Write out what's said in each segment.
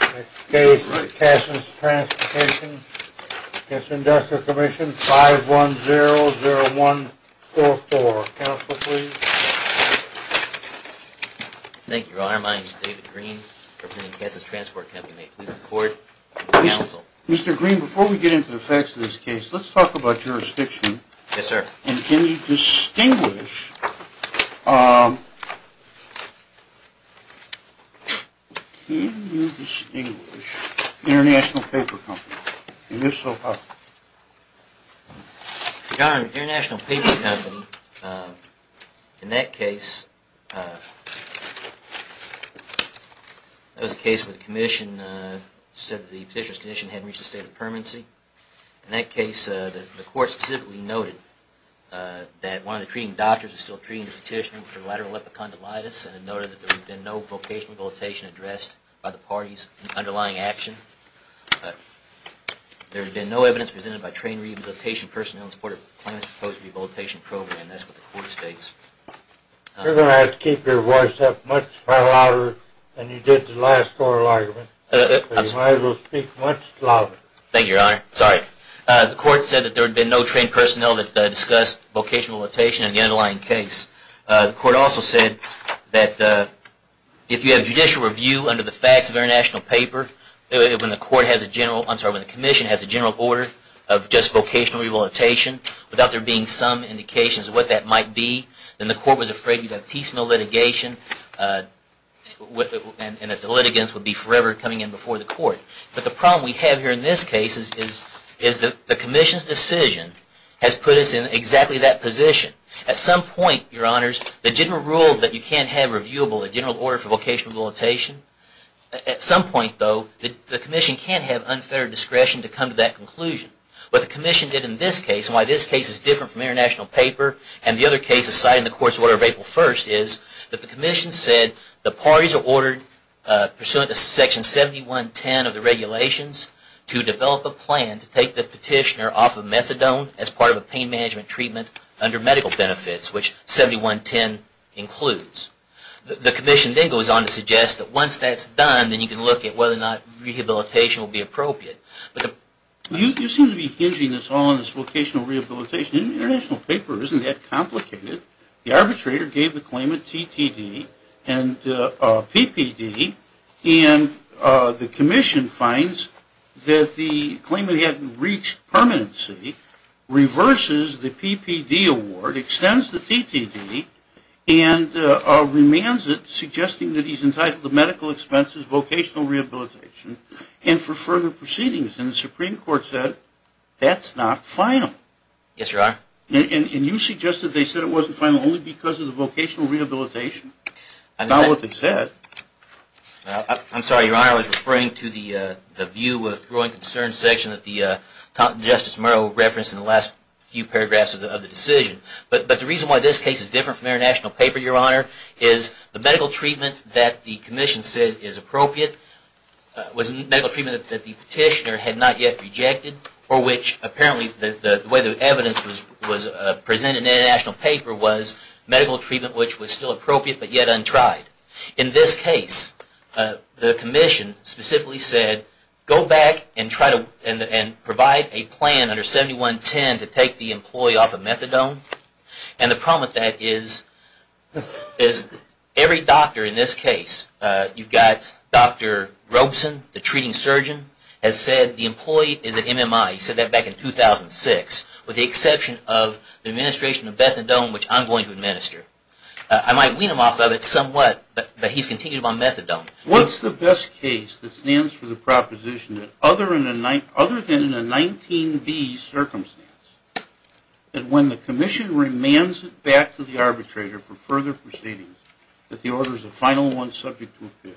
Next case, Kansas Transportation, Kansas Industrial Commission, 5100144. Counsel, please. Thank you, Your Honor. My name is David Green, representing Kansas Transport Company. May it please the Court, and counsel. Mr. Green, before we get into the facts of this case, let's talk about jurisdiction. Yes, sir. And can you distinguish, can you distinguish International Paper Company, and if so, how? Your Honor, International Paper Company, in that case, that was a case where the Commission said that the petitioner's condition hadn't reached a state of permanency. In that case, the Court specifically noted that one of the treating doctors was still treating the petitioner for lateral epicondylitis, and noted that there had been no vocational rehabilitation addressed by the parties in the underlying action. There had been no evidence presented by trained rehabilitation personnel in support of the claimants' proposed rehabilitation program. That's what the Court states. You're going to have to keep your voice up much louder than you did the last oral argument. I'm sorry. But you might as well speak much louder. Thank you, Your Honor. Sorry. The Court said that there had been no trained personnel that discussed vocational rehabilitation in the underlying case. The Court also said that if you have judicial review under the facts of International Paper, when the Commission has a general order of just vocational rehabilitation without there being some indications of what that might be, then the Court was afraid you'd have piecemeal litigation and that the litigants would be forever coming in before the Court. But the problem we have here in this case is that the Commission's decision has put us in exactly that position. At some point, Your Honors, the general rule that you can't have reviewable, a general order for vocational rehabilitation, at some point, though, the Commission can't have unfettered discretion to come to that conclusion. What the Commission did in this case, and why this case is different from International Paper and the other cases cited in the Court's order of April 1st, is that the Commission said the parties are ordered pursuant to Section 7110 of the regulations to develop a plan to take the petitioner off of methadone as part of a pain management treatment under medical benefits, which 7110 includes. The Commission then goes on to suggest that once that's done, then you can look at whether or not rehabilitation will be appropriate. You seem to be hinging this all on this vocational rehabilitation. In International Paper, it isn't that complicated. The arbitrator gave the claim of TTD and PPD, and the Commission finds that the claimant hadn't reached permanency, reverses the PPD award, extends the TTD, and remands it, suggesting that he's entitled to medical expenses, vocational rehabilitation, and for further proceedings. And the Supreme Court said that's not final. Yes, Your Honor. And you suggested they said it wasn't final only because of the vocational rehabilitation? That's not what they said. I'm sorry, Your Honor. I was referring to the view with growing concern section that Justice Murrow referenced in the last few paragraphs of the decision. But the reason why this case is different from International Paper, Your Honor, is the medical treatment that the Commission said is appropriate was medical treatment that the petitioner had not yet rejected, or which apparently the way the evidence was presented in International Paper was medical treatment which was still appropriate but yet untried. In this case, the Commission specifically said, go back and provide a plan under 7110 to take the employee off of methadone. And the problem with that is every doctor in this case, you've got Dr. Robeson, the treating surgeon, has said the employee is an MMI. He said that back in 2006, with the exception of the administration of bethadone, which I'm going to administer. I might wean him off of it somewhat, but he's continuing on methadone. What's the best case that stands for the proposition that other than in a 19B circumstance, that when the Commission remands it back to the arbitrator for further proceedings, that the order is a final one subject to appeal?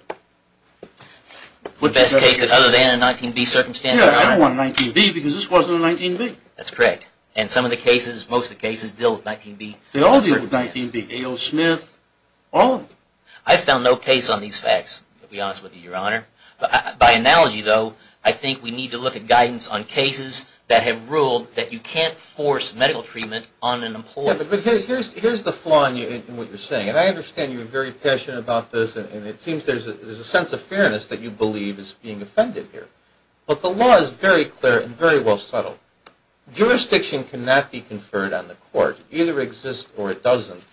The best case that other than a 19B circumstance? Yeah, I don't want a 19B because this wasn't a 19B. That's correct. And some of the cases, most of the cases deal with 19B. They all deal with 19B. A.O. Smith, all of them. I found no case on these facts, to be honest with you, Your Honor. By analogy, though, I think we need to look at guidance on cases that have ruled that you can't force medical treatment on an employee. Yeah, but here's the flaw in what you're saying. And I understand you're very passionate about this, and it seems there's a sense of fairness that you believe is being offended here. But the law is very clear and very well settled. Jurisdiction cannot be conferred on the court. It either exists or it doesn't.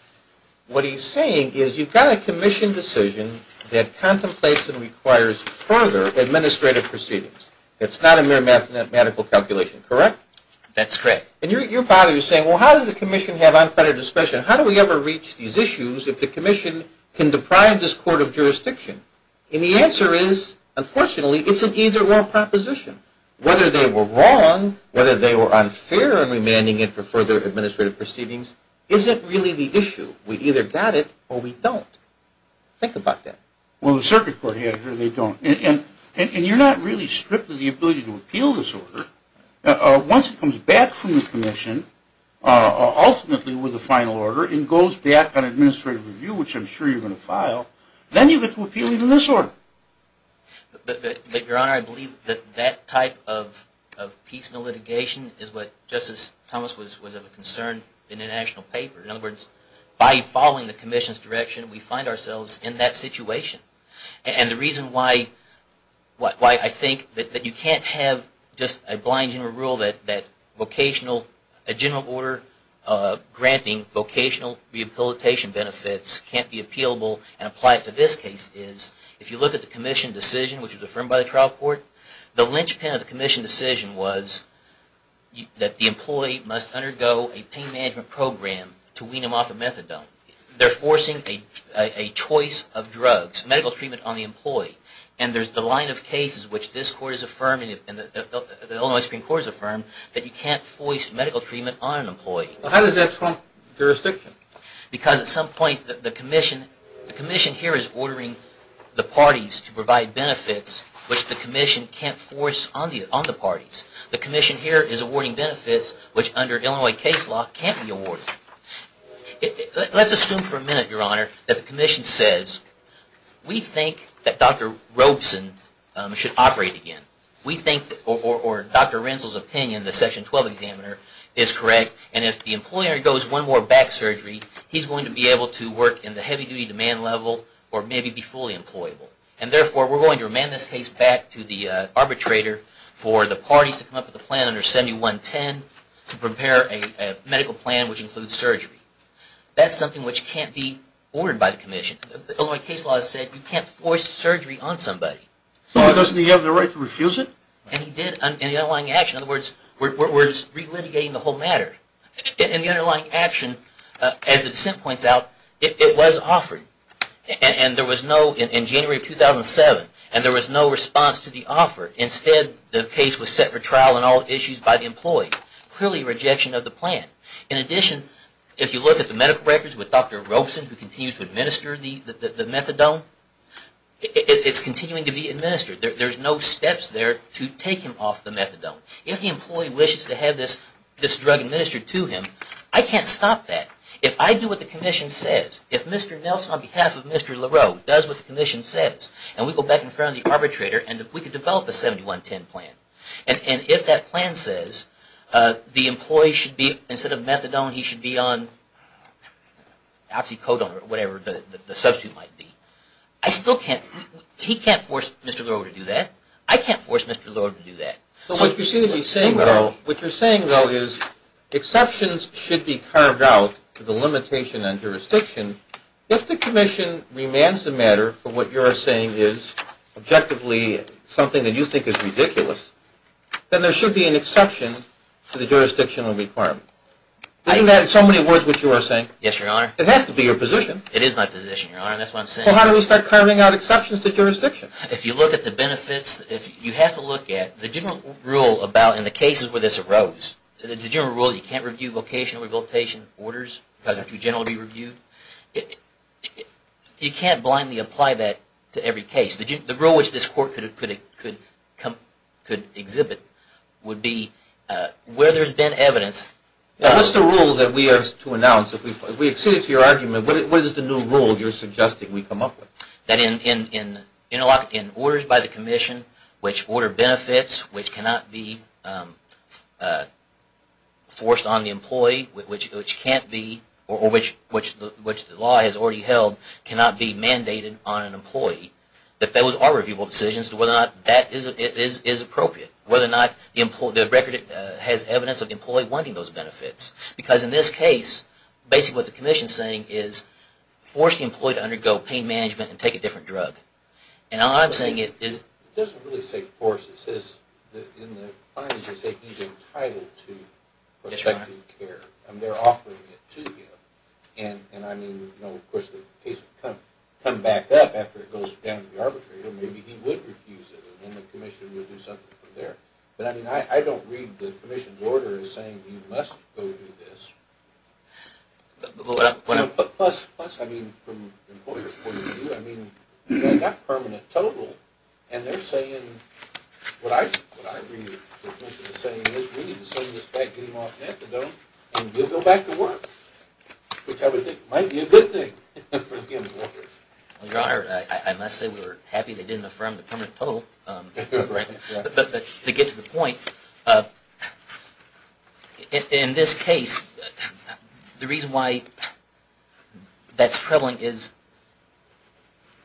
What he's saying is you've got a Commission decision that contemplates and requires further administrative proceedings. It's not a mere medical calculation, correct? That's correct. And your father is saying, well, how does the Commission have unfettered discretion? How do we ever reach these issues if the Commission can deprive this court of jurisdiction? And the answer is, unfortunately, it's an either-or proposition. Whether they were wrong, whether they were unfair in remanding it for further administrative proceedings isn't really the issue. We've either got it or we don't. Think about that. Well, the circuit court has it or they don't. And you're not really stripped of the ability to appeal this order. Once it comes back from the Commission, ultimately with a final order, and goes back on administrative review, which I'm sure you're going to file, then you get to appeal even this order. But, Your Honor, I believe that that type of piecemeal litigation is what Justice Thomas was of concern in the national paper. In other words, by following the Commission's direction, we find ourselves in that situation. And the reason why I think that you can't have just a blind general rule that a general order granting vocational rehabilitation benefits can't be appealable and apply it to this case is, if you look at the Commission decision, which was affirmed by the trial court, the linchpin of the Commission decision was that the employee must undergo a pain management program to wean him off of methadone. Now, they're forcing a choice of drugs, medical treatment on the employee. And there's the line of cases which this Court has affirmed and the Illinois Supreme Court has affirmed that you can't force medical treatment on an employee. How does that trump jurisdiction? Because at some point the Commission here is ordering the parties to provide benefits which the Commission can't force on the parties. The Commission here is awarding benefits which under Illinois case law can't be awarded. Let's assume for a minute, Your Honor, that the Commission says, we think that Dr. Robeson should operate again. We think, or Dr. Renzel's opinion, the Section 12 examiner, is correct. And if the employer goes one more back surgery, he's going to be able to work in the heavy-duty demand level or maybe be fully employable. And therefore, we're going to remand this case back to the arbitrator for the parties to come up with a plan under 7110 to prepare a medical plan which includes surgery. That's something which can't be ordered by the Commission. Illinois case law has said you can't force surgery on somebody. But doesn't he have the right to refuse it? And he did in the underlying action. In other words, we're just re-litigating the whole matter. In the underlying action, as the dissent points out, it was offered. And there was no, in January of 2007, and there was no response to the offer. Instead, the case was set for trial on all issues by the employee. Clearly a rejection of the plan. In addition, if you look at the medical records with Dr. Robeson, who continues to administer the methadone, it's continuing to be administered. There's no steps there to take him off the methadone. If the employee wishes to have this drug administered to him, I can't stop that. If I do what the Commission says, if Mr. Nelson on behalf of Mr. Leroux does what the Commission says, and we go back in front of the arbitrator and we can develop a 7110 plan, and if that plan says the employee should be, instead of methadone, he should be on oxycodone or whatever the substitute might be, I still can't, he can't force Mr. Leroux to do that. I can't force Mr. Leroux to do that. So what you seem to be saying, though, what you're saying, though, is exceptions should be carved out to the limitation on jurisdiction. If the Commission remains the matter for what you're saying is objectively something that you think is ridiculous, then there should be an exception to the jurisdictional requirement. Isn't that in so many words what you are saying? Yes, Your Honor. It has to be your position. It is my position, Your Honor. That's what I'm saying. Well, how do we start carving out exceptions to jurisdiction? If you look at the benefits, you have to look at the general rule about, in the cases where this arose, the general rule you can't review vocational rehabilitation orders because they're too generally reviewed. You can't blindly apply that to every case. The rule which this Court could exhibit would be where there's been evidence. What's the rule that we are to announce? If we accede to your argument, what is the new rule you're suggesting we come up with? That in orders by the Commission which order benefits which cannot be forced on the employee, or which the law has already held cannot be mandated on an employee, that those are reviewable decisions as to whether or not that is appropriate. Whether or not the record has evidence of the employee wanting those benefits. Because in this case, basically what the Commission is saying is, force the employee to undergo pain management and take a different drug. And all I'm saying is... It doesn't really say force. It says in the findings that he's entitled to prospective care. They're offering it to him. And I mean, of course, the case would come back up after it goes down to the arbitrator. Maybe he would refuse it, and the Commission would do something from there. But I mean, I don't read the Commission's order as saying you must go do this. Plus, I mean, from the employer's point of view, I mean, they've got permanent total, and they're saying... What I read the Commission is saying is we need to send this back, get him off methadone, and he'll go back to work. Which I would think might be a good thing for the employer. Your Honor, I must say we were happy they didn't affirm the permanent total. But to get to the point, in this case, the reason why that's troubling is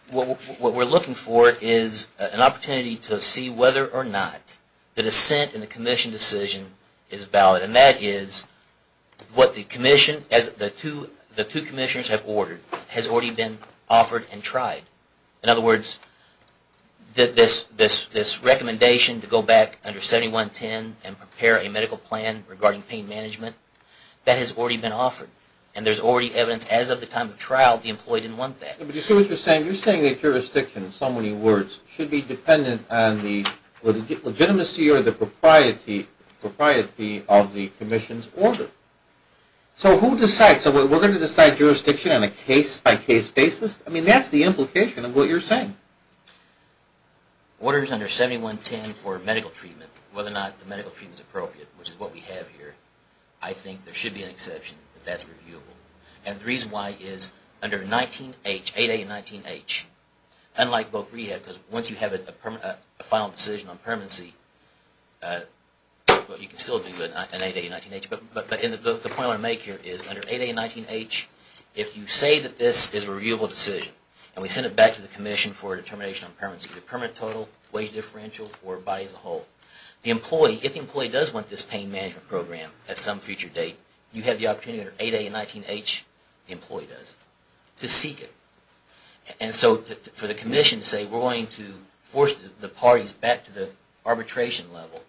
what we're looking for is an opportunity to see whether or not the dissent in the Commission decision is valid. And that is what the Commission, as the two Commissioners have ordered, has already been offered and tried. In other words, this recommendation to go back under 7110 and prepare a medical plan regarding pain management, that has already been offered. And there's already evidence as of the time of trial the employee didn't want that. But you see what you're saying? You're saying that jurisdiction, in so many words, should be dependent on the legitimacy or the propriety of the Commission's order. So who decides? So we're going to decide jurisdiction on a case-by-case basis? I mean, that's the implication of what you're saying. Orders under 7110 for medical treatment, whether or not the medical treatment is appropriate, which is what we have here, I think there should be an exception if that's reviewable. And the reason why is under 8A and 19H, unlike both rehabs, because once you have a final decision on permanency, you can still do that in 8A and 19H. But the point I want to make here is under 8A and 19H, if you say that this is a reviewable decision and we send it back to the Commission for a determination on permanency, the permanent total, wage differential, or body as a whole, the employee, if the employee does want this pain management program at some future date, you have the opportunity under 8A and 19H, the employee does, to seek it. And so for the Commission to say, we're going to force the parties back to the arbitration level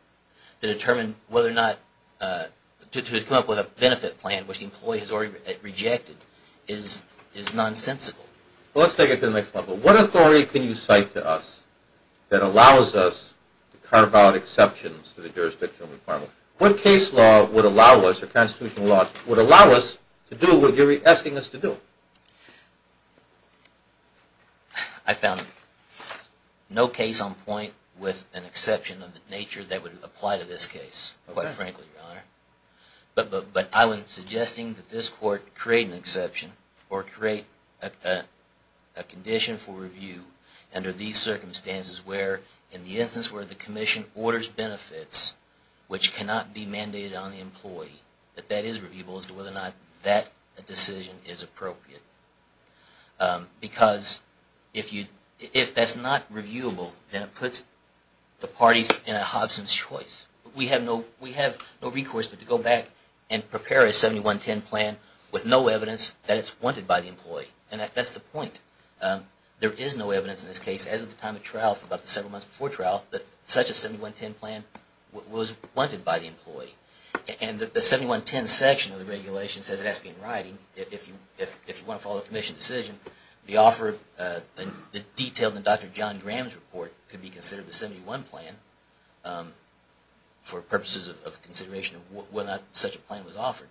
to determine whether or not to come up with a benefit plan, which the employee has already rejected, is nonsensical. Well, let's take it to the next level. What authority can you cite to us that allows us to carve out exceptions to the jurisdictional requirement? What case law would allow us, or constitutional law, would allow us to do what you're asking us to do? I found no case on point with an exception of the nature that would apply to this case, quite frankly, Your Honor. But I would suggest that this Court create an exception, or create a condition for review, under these circumstances where, in the instance where the Commission orders benefits which cannot be mandated on the employee, that that is reviewable as to whether or not that decision is appropriate. Because if that's not reviewable, then it puts the parties in a Hobson's choice. We have no recourse but to go back and prepare a 7110 plan with no evidence that it's wanted by the employee. And that's the point. There is no evidence in this case, as of the time of trial, for about the several months before trial, that such a 7110 plan was wanted by the employee. And the 7110 section of the regulation says it has to be in writing if you want to follow the Commission's decision. The detail in Dr. John Graham's report could be considered the 7110 plan for purposes of consideration of whether or not such a plan was offered.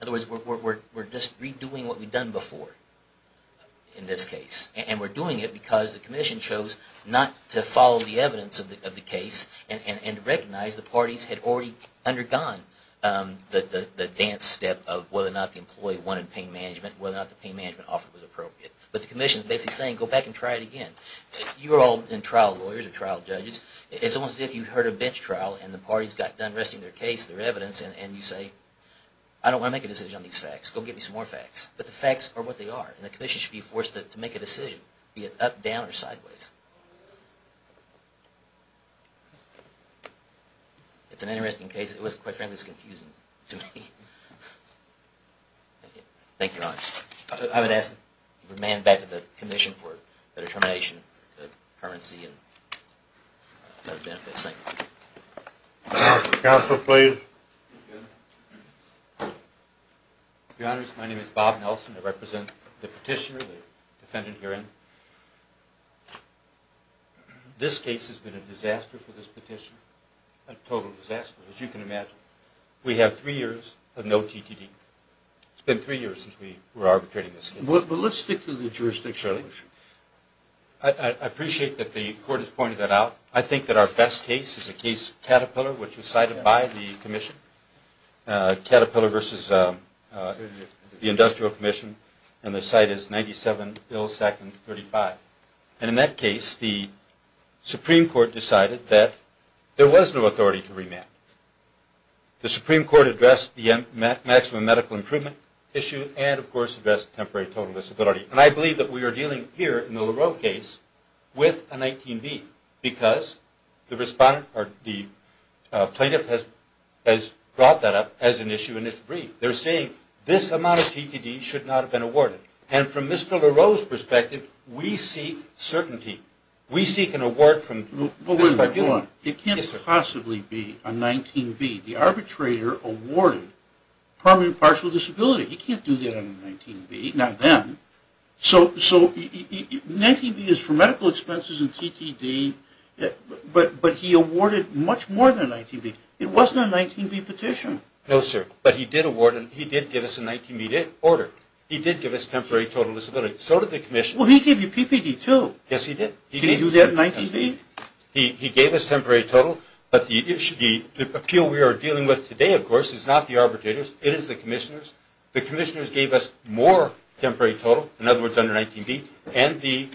In other words, we're just redoing what we've done before in this case. And we're doing it because the Commission chose not to follow the evidence of the case and recognize the parties had already undergone the dance step of whether or not the employee wanted pain management and whether or not the pain management offered was appropriate. But the Commission is basically saying, go back and try it again. You're all in trial lawyers or trial judges. It's almost as if you heard a bench trial and the parties got done resting their case, their evidence, and you say, I don't want to make a decision on these facts. Go get me some more facts. But the facts are what they are. And the Commission should be forced to make a decision, be it up, down, or sideways. It's an interesting case. It was quite frankly confusing to me. Thank you. Thank you, Your Honors. I would ask the man back to the Commission for the determination of the currency and benefits. Thank you. Counsel, please. Your Honors, my name is Bob Nelson. I represent the petitioner, the defendant herein. This case has been a disaster for this petitioner, a total disaster, as you can imagine. We have three years of no TTD. It's been three years since we were arbitrating this case. But let's stick to the jurisdiction. I appreciate that the Court has pointed that out. I think that our best case is the case of Caterpillar, which was cited by the Commission, Caterpillar versus the Industrial Commission, and the cite is 97 Bill 235. And in that case, the Supreme Court decided that there was no authority to remand. The Supreme Court addressed the maximum medical improvement issue and, of course, addressed temporary total disability. And I believe that we are dealing here in the LaRoe case with a 19B because the plaintiff has brought that up as an issue in its brief. They're saying this amount of TTD should not have been awarded. And from Mr. LaRoe's perspective, we seek certainty. We seek an award from this tribunal. But wait a minute. It can't possibly be a 19B. The arbitrator awarded permanent partial disability. He can't do that on a 19B. Not then. So 19B is for medical expenses and TTD, but he awarded much more than a 19B. It wasn't a 19B petition. No, sir. But he did award and he did give us a 19B order. He did give us temporary total disability. So did the Commission. Well, he gave you PPD, too. Yes, he did. Can you do that in 19B? He gave us temporary total, but the appeal we are dealing with today, of course, is not the arbitrators. It is the commissioners. The commissioners gave us more temporary total, in other words, under 19B, and the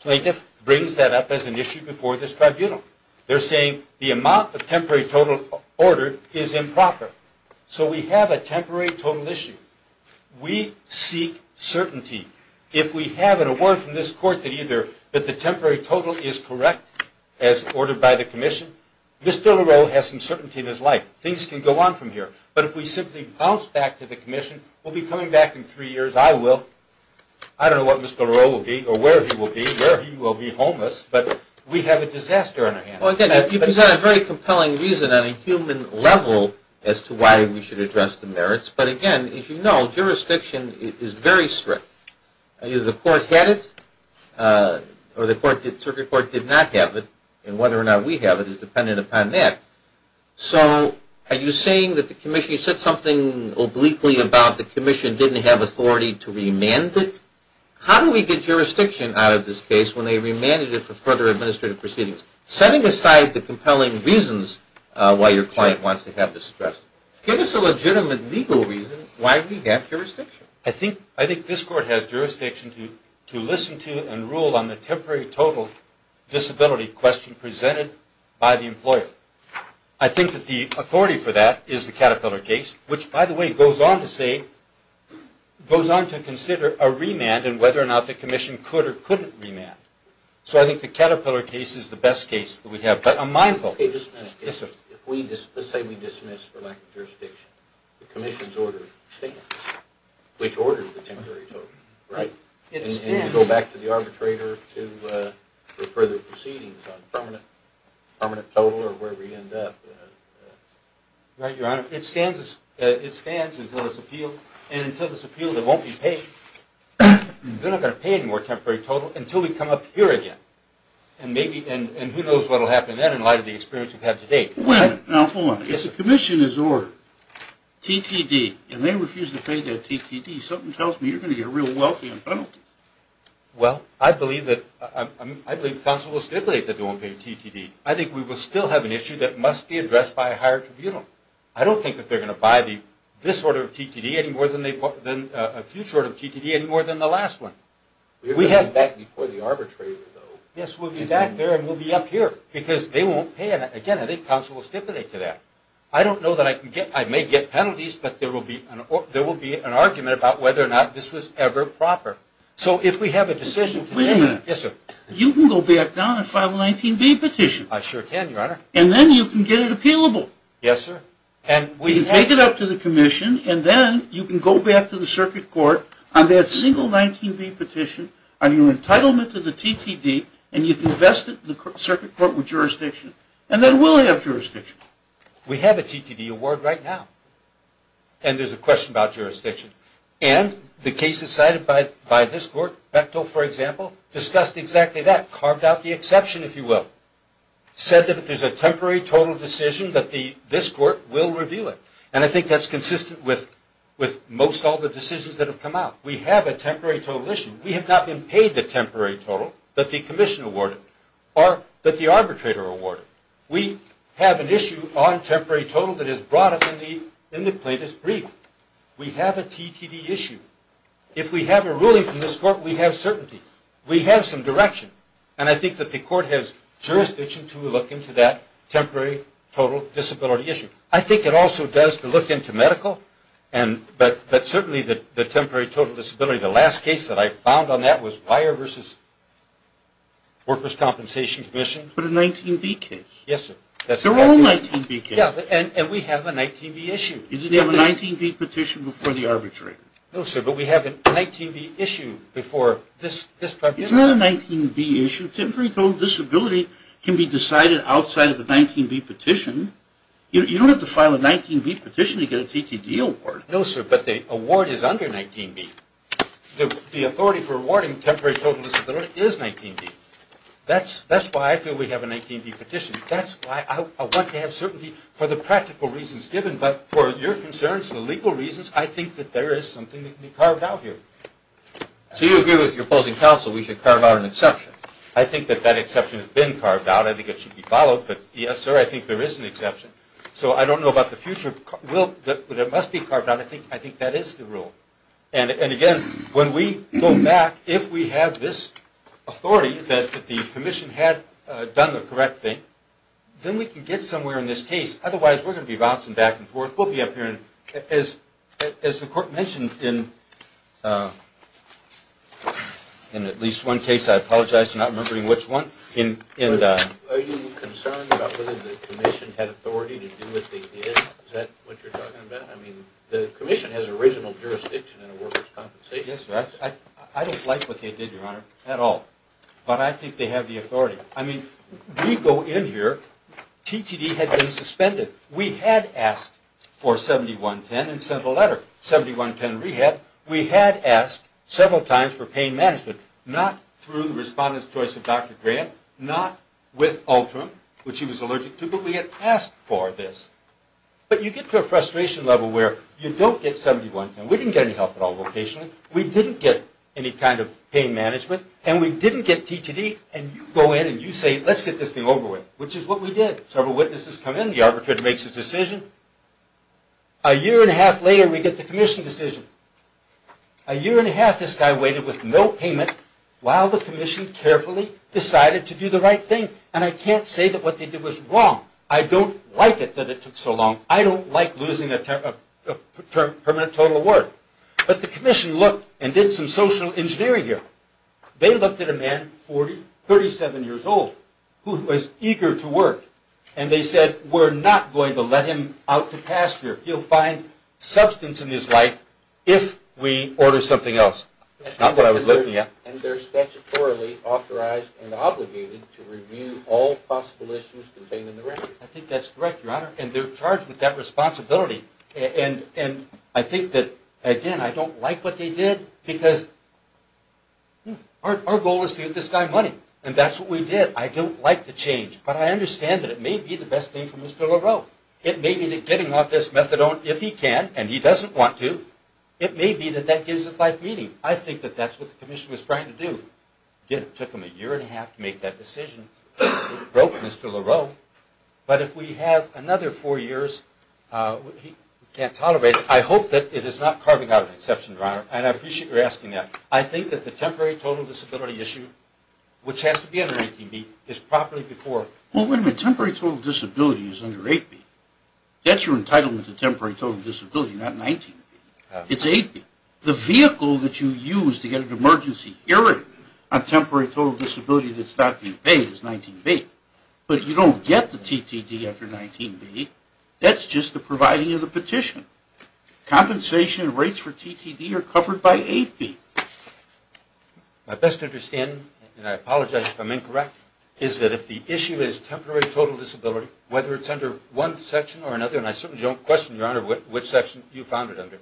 plaintiff brings that up as an issue before this tribunal. They're saying the amount of temporary total ordered is improper. So we have a temporary total issue. We seek certainty. If we have an award from this court that either the temporary total is correct, as ordered by the commission, Mr. Leroux has some certainty in his life. Things can go on from here. But if we simply bounce back to the commission, we'll be coming back in three years. I will. I don't know what Mr. Leroux will be or where he will be, where he will be homeless, but we have a disaster on our hands. Well, again, you present a very compelling reason on a human level as to why we should address the merits. But, again, as you know, jurisdiction is very strict. Either the court had it or the circuit court did not have it, and whether or not we have it is dependent upon that. So are you saying that the commission, you said something obliquely about the commission didn't have authority to remand it? How do we get jurisdiction out of this case when they remanded it for further administrative proceedings? Setting aside the compelling reasons why your client wants to have this addressed, give us a legitimate legal reason why we have jurisdiction. I think this court has jurisdiction to listen to and rule on the temporary total disability question presented by the employer. I think that the authority for that is the Caterpillar case, which, by the way, goes on to say, goes on to consider a remand and whether or not the commission could or couldn't remand. So I think the Caterpillar case is the best case that we have. Okay, just a minute. Let's say we dismiss for lack of jurisdiction. The commission's order stands. Which order is the temporary total? Right. And you go back to the arbitrator to refer the proceedings on permanent total or wherever you end up. Right, Your Honor. It stands until it's appealed. And until it's appealed, it won't be paid. They're not going to pay any more temporary total until we come up here again. And who knows what will happen then in light of the experience we've had to date. Wait a minute. Now, hold on. If the commission's order, TTD, and they refuse to pay that TTD, something tells me you're going to get real wealthy on penalties. Well, I believe the counsel will stipulate that they won't pay the TTD. I think we will still have an issue that must be addressed by a higher tribunal. I don't think that they're going to buy this order of TTD any more than a future order of TTD any more than the last one. We're going to be back before the arbitrator, though. Yes, we'll be back there and we'll be up here because they won't pay it. Again, I think counsel will stipulate to that. I don't know that I may get penalties, but there will be an argument about whether or not this was ever proper. So if we have a decision today. Wait a minute. Yes, sir. You can go back down and file a 19B petition. I sure can, Your Honor. And then you can get it appealable. Yes, sir. And we can take it up to the commission, and then you can go back to the circuit court on that single 19B petition on your entitlement to the TTD, and you can invest it in the circuit court with jurisdiction, and then we'll have jurisdiction. We have a TTD award right now, and there's a question about jurisdiction. And the cases cited by this court, Bechtel, for example, discussed exactly that, carved out the exception, if you will, said that if there's a temporary total decision that this court will review it. And I think that's consistent with most all the decisions that have come out. We have a temporary total issue. We have not been paid the temporary total that the commission awarded or that the arbitrator awarded. We have an issue on temporary total that is brought up in the plaintiff's brief. We have a TTD issue. If we have a ruling from this court, we have certainty. We have some direction, and I think that the court has jurisdiction to look into that temporary total disability issue. I think it also does to look into medical, but certainly the temporary total disability, the last case that I found on that was Wire v. Workers' Compensation Commission. But a 19B case. Yes, sir. They're all 19B cases. Yeah, and we have a 19B issue. You didn't have a 19B petition before the arbitrator. No, sir, but we have a 19B issue before this tribunal. It's not a 19B issue. Temporary total disability can be decided outside of a 19B petition. You don't have to file a 19B petition to get a TTD award. No, sir, but the award is under 19B. The authority for awarding temporary total disability is 19B. That's why I feel we have a 19B petition. That's why I want to have certainty for the practical reasons given, but for your concerns, the legal reasons, I think that there is something that can be carved out here. So you agree with the opposing counsel we should carve out an exception? I think that that exception has been carved out. I think it should be followed. But, yes, sir, I think there is an exception. So I don't know about the future, but it must be carved out. I think that is the rule. And, again, when we go back, if we have this authority that the commission had done the correct thing, then we can get somewhere in this case. Otherwise, we're going to be bouncing back and forth. We'll be up here. As the court mentioned in at least one case, I apologize, I'm not remembering which one. Are you concerned about whether the commission had authority to do what they did? Is that what you're talking about? The commission has original jurisdiction in a workers' compensation. Yes, sir. I don't like what they did, Your Honor, at all. But I think they have the authority. I mean, we go in here. TTD had been suspended. We had asked for 7110 and sent a letter, 7110 Rehab. We had asked several times for pain management, not through the respondent's choice of Dr. Grant, not with Ultram, which he was allergic to, but we had asked for this. But you get to a frustration level where you don't get 7110. We didn't get any help at all vocationally. We didn't get any kind of pain management, and we didn't get TTD. And you go in and you say, let's get this thing over with, which is what we did. Several witnesses come in. The arbitrator makes a decision. A year and a half later, we get the commission decision. A year and a half, this guy waited with no payment, while the commission carefully decided to do the right thing. And I can't say that what they did was wrong. I don't like it that it took so long. I don't like losing a permanent total of work. But the commission looked and did some social engineering here. They looked at a man, 37 years old, who was eager to work, and they said, we're not going to let him out to pasture. You'll find substance in his life if we order something else. That's not what I was looking at. And they're statutorily authorized and obligated to review all possible issues contained in the record. I think that's correct, Your Honor. And they're charged with that responsibility. And I think that, again, I don't like what they did, because our goal is to get this guy money. And that's what we did. I don't like the change. But I understand that it may be the best thing for Mr. LaRoe. It may be that getting off this methadone, if he can, and he doesn't want to, it may be that that gives us life meaning. I think that that's what the commission was trying to do. It took them a year and a half to make that decision. It broke Mr. LaRoe. But if we have another four years, we can't tolerate it. I hope that it is not carving out an exception, Your Honor. And I appreciate your asking that. I think that the temporary total disability issue, which has to be under 19B, is properly before. Well, wait a minute. Temporary total disability is under 8B. That's your entitlement to temporary total disability, not 19B. It's 8B. The vehicle that you use to get an emergency hearing on temporary total disability that's not being paid is 19B. But you don't get the TTD after 19B. That's just the providing of the petition. Compensation rates for TTD are covered by 8B. My best understanding, and I apologize if I'm incorrect, is that if the issue is temporary total disability, whether it's under one section or another, and I certainly don't question, Your Honor, which section you found it under,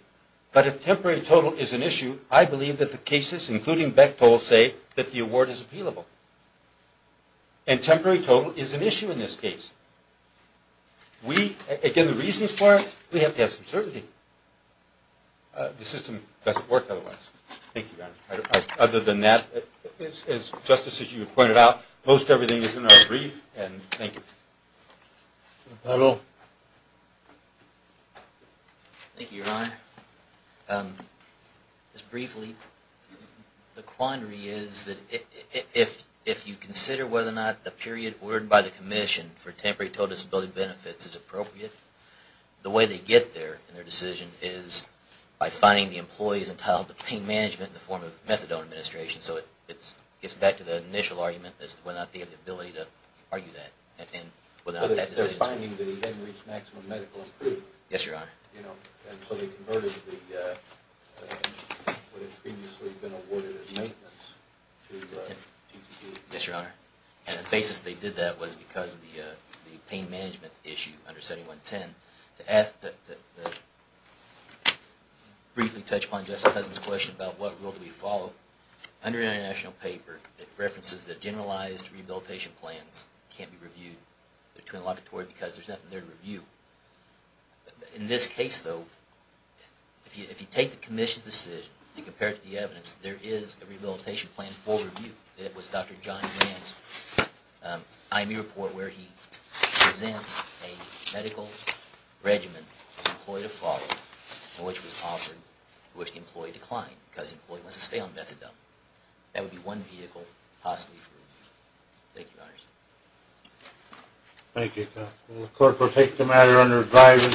but if temporary total is an issue, I believe that the cases, including Bechtol, say that the award is appealable. And temporary total is an issue in this case. Again, the reasons for it, we have to have some certainty. The system doesn't work otherwise. Thank you, Your Honor. Other than that, as, Justice, as you pointed out, most everything is in our brief. Thank you. Thank you, Your Honor. Just briefly, the quandary is that if you consider whether or not the period ordered by the commission for temporary total disability benefits is appropriate, the way they get there in their decision is by finding the employees entitled to pain management in the form of methadone administration. So it gets back to the initial argument as to whether or not they have the ability to argue that, and whether or not that decision is appropriate. They're finding that he hasn't reached maximum medical improvement. Yes, Your Honor. And so they converted what had previously been awarded as maintenance to TPD. Yes, Your Honor. And the basis they did that was because of the pain management issue under 7110. To briefly touch upon Justice Cousin's question about what rule do we follow, under international paper it references that generalized rehabilitation plans can't be reviewed between the locatory because there's nothing there to review. In this case, though, if you take the commission's decision and compare it to the evidence, there is a rehabilitation plan for review. It was Dr. John Mann's IME report where he presents a medical regimen for the employee to follow and which was offered to which the employee declined because the employee must have failed methadone. That would be one vehicle possibly for review. Thank you, Your Honor. Thank you, counsel. The court will take the matter under advisory.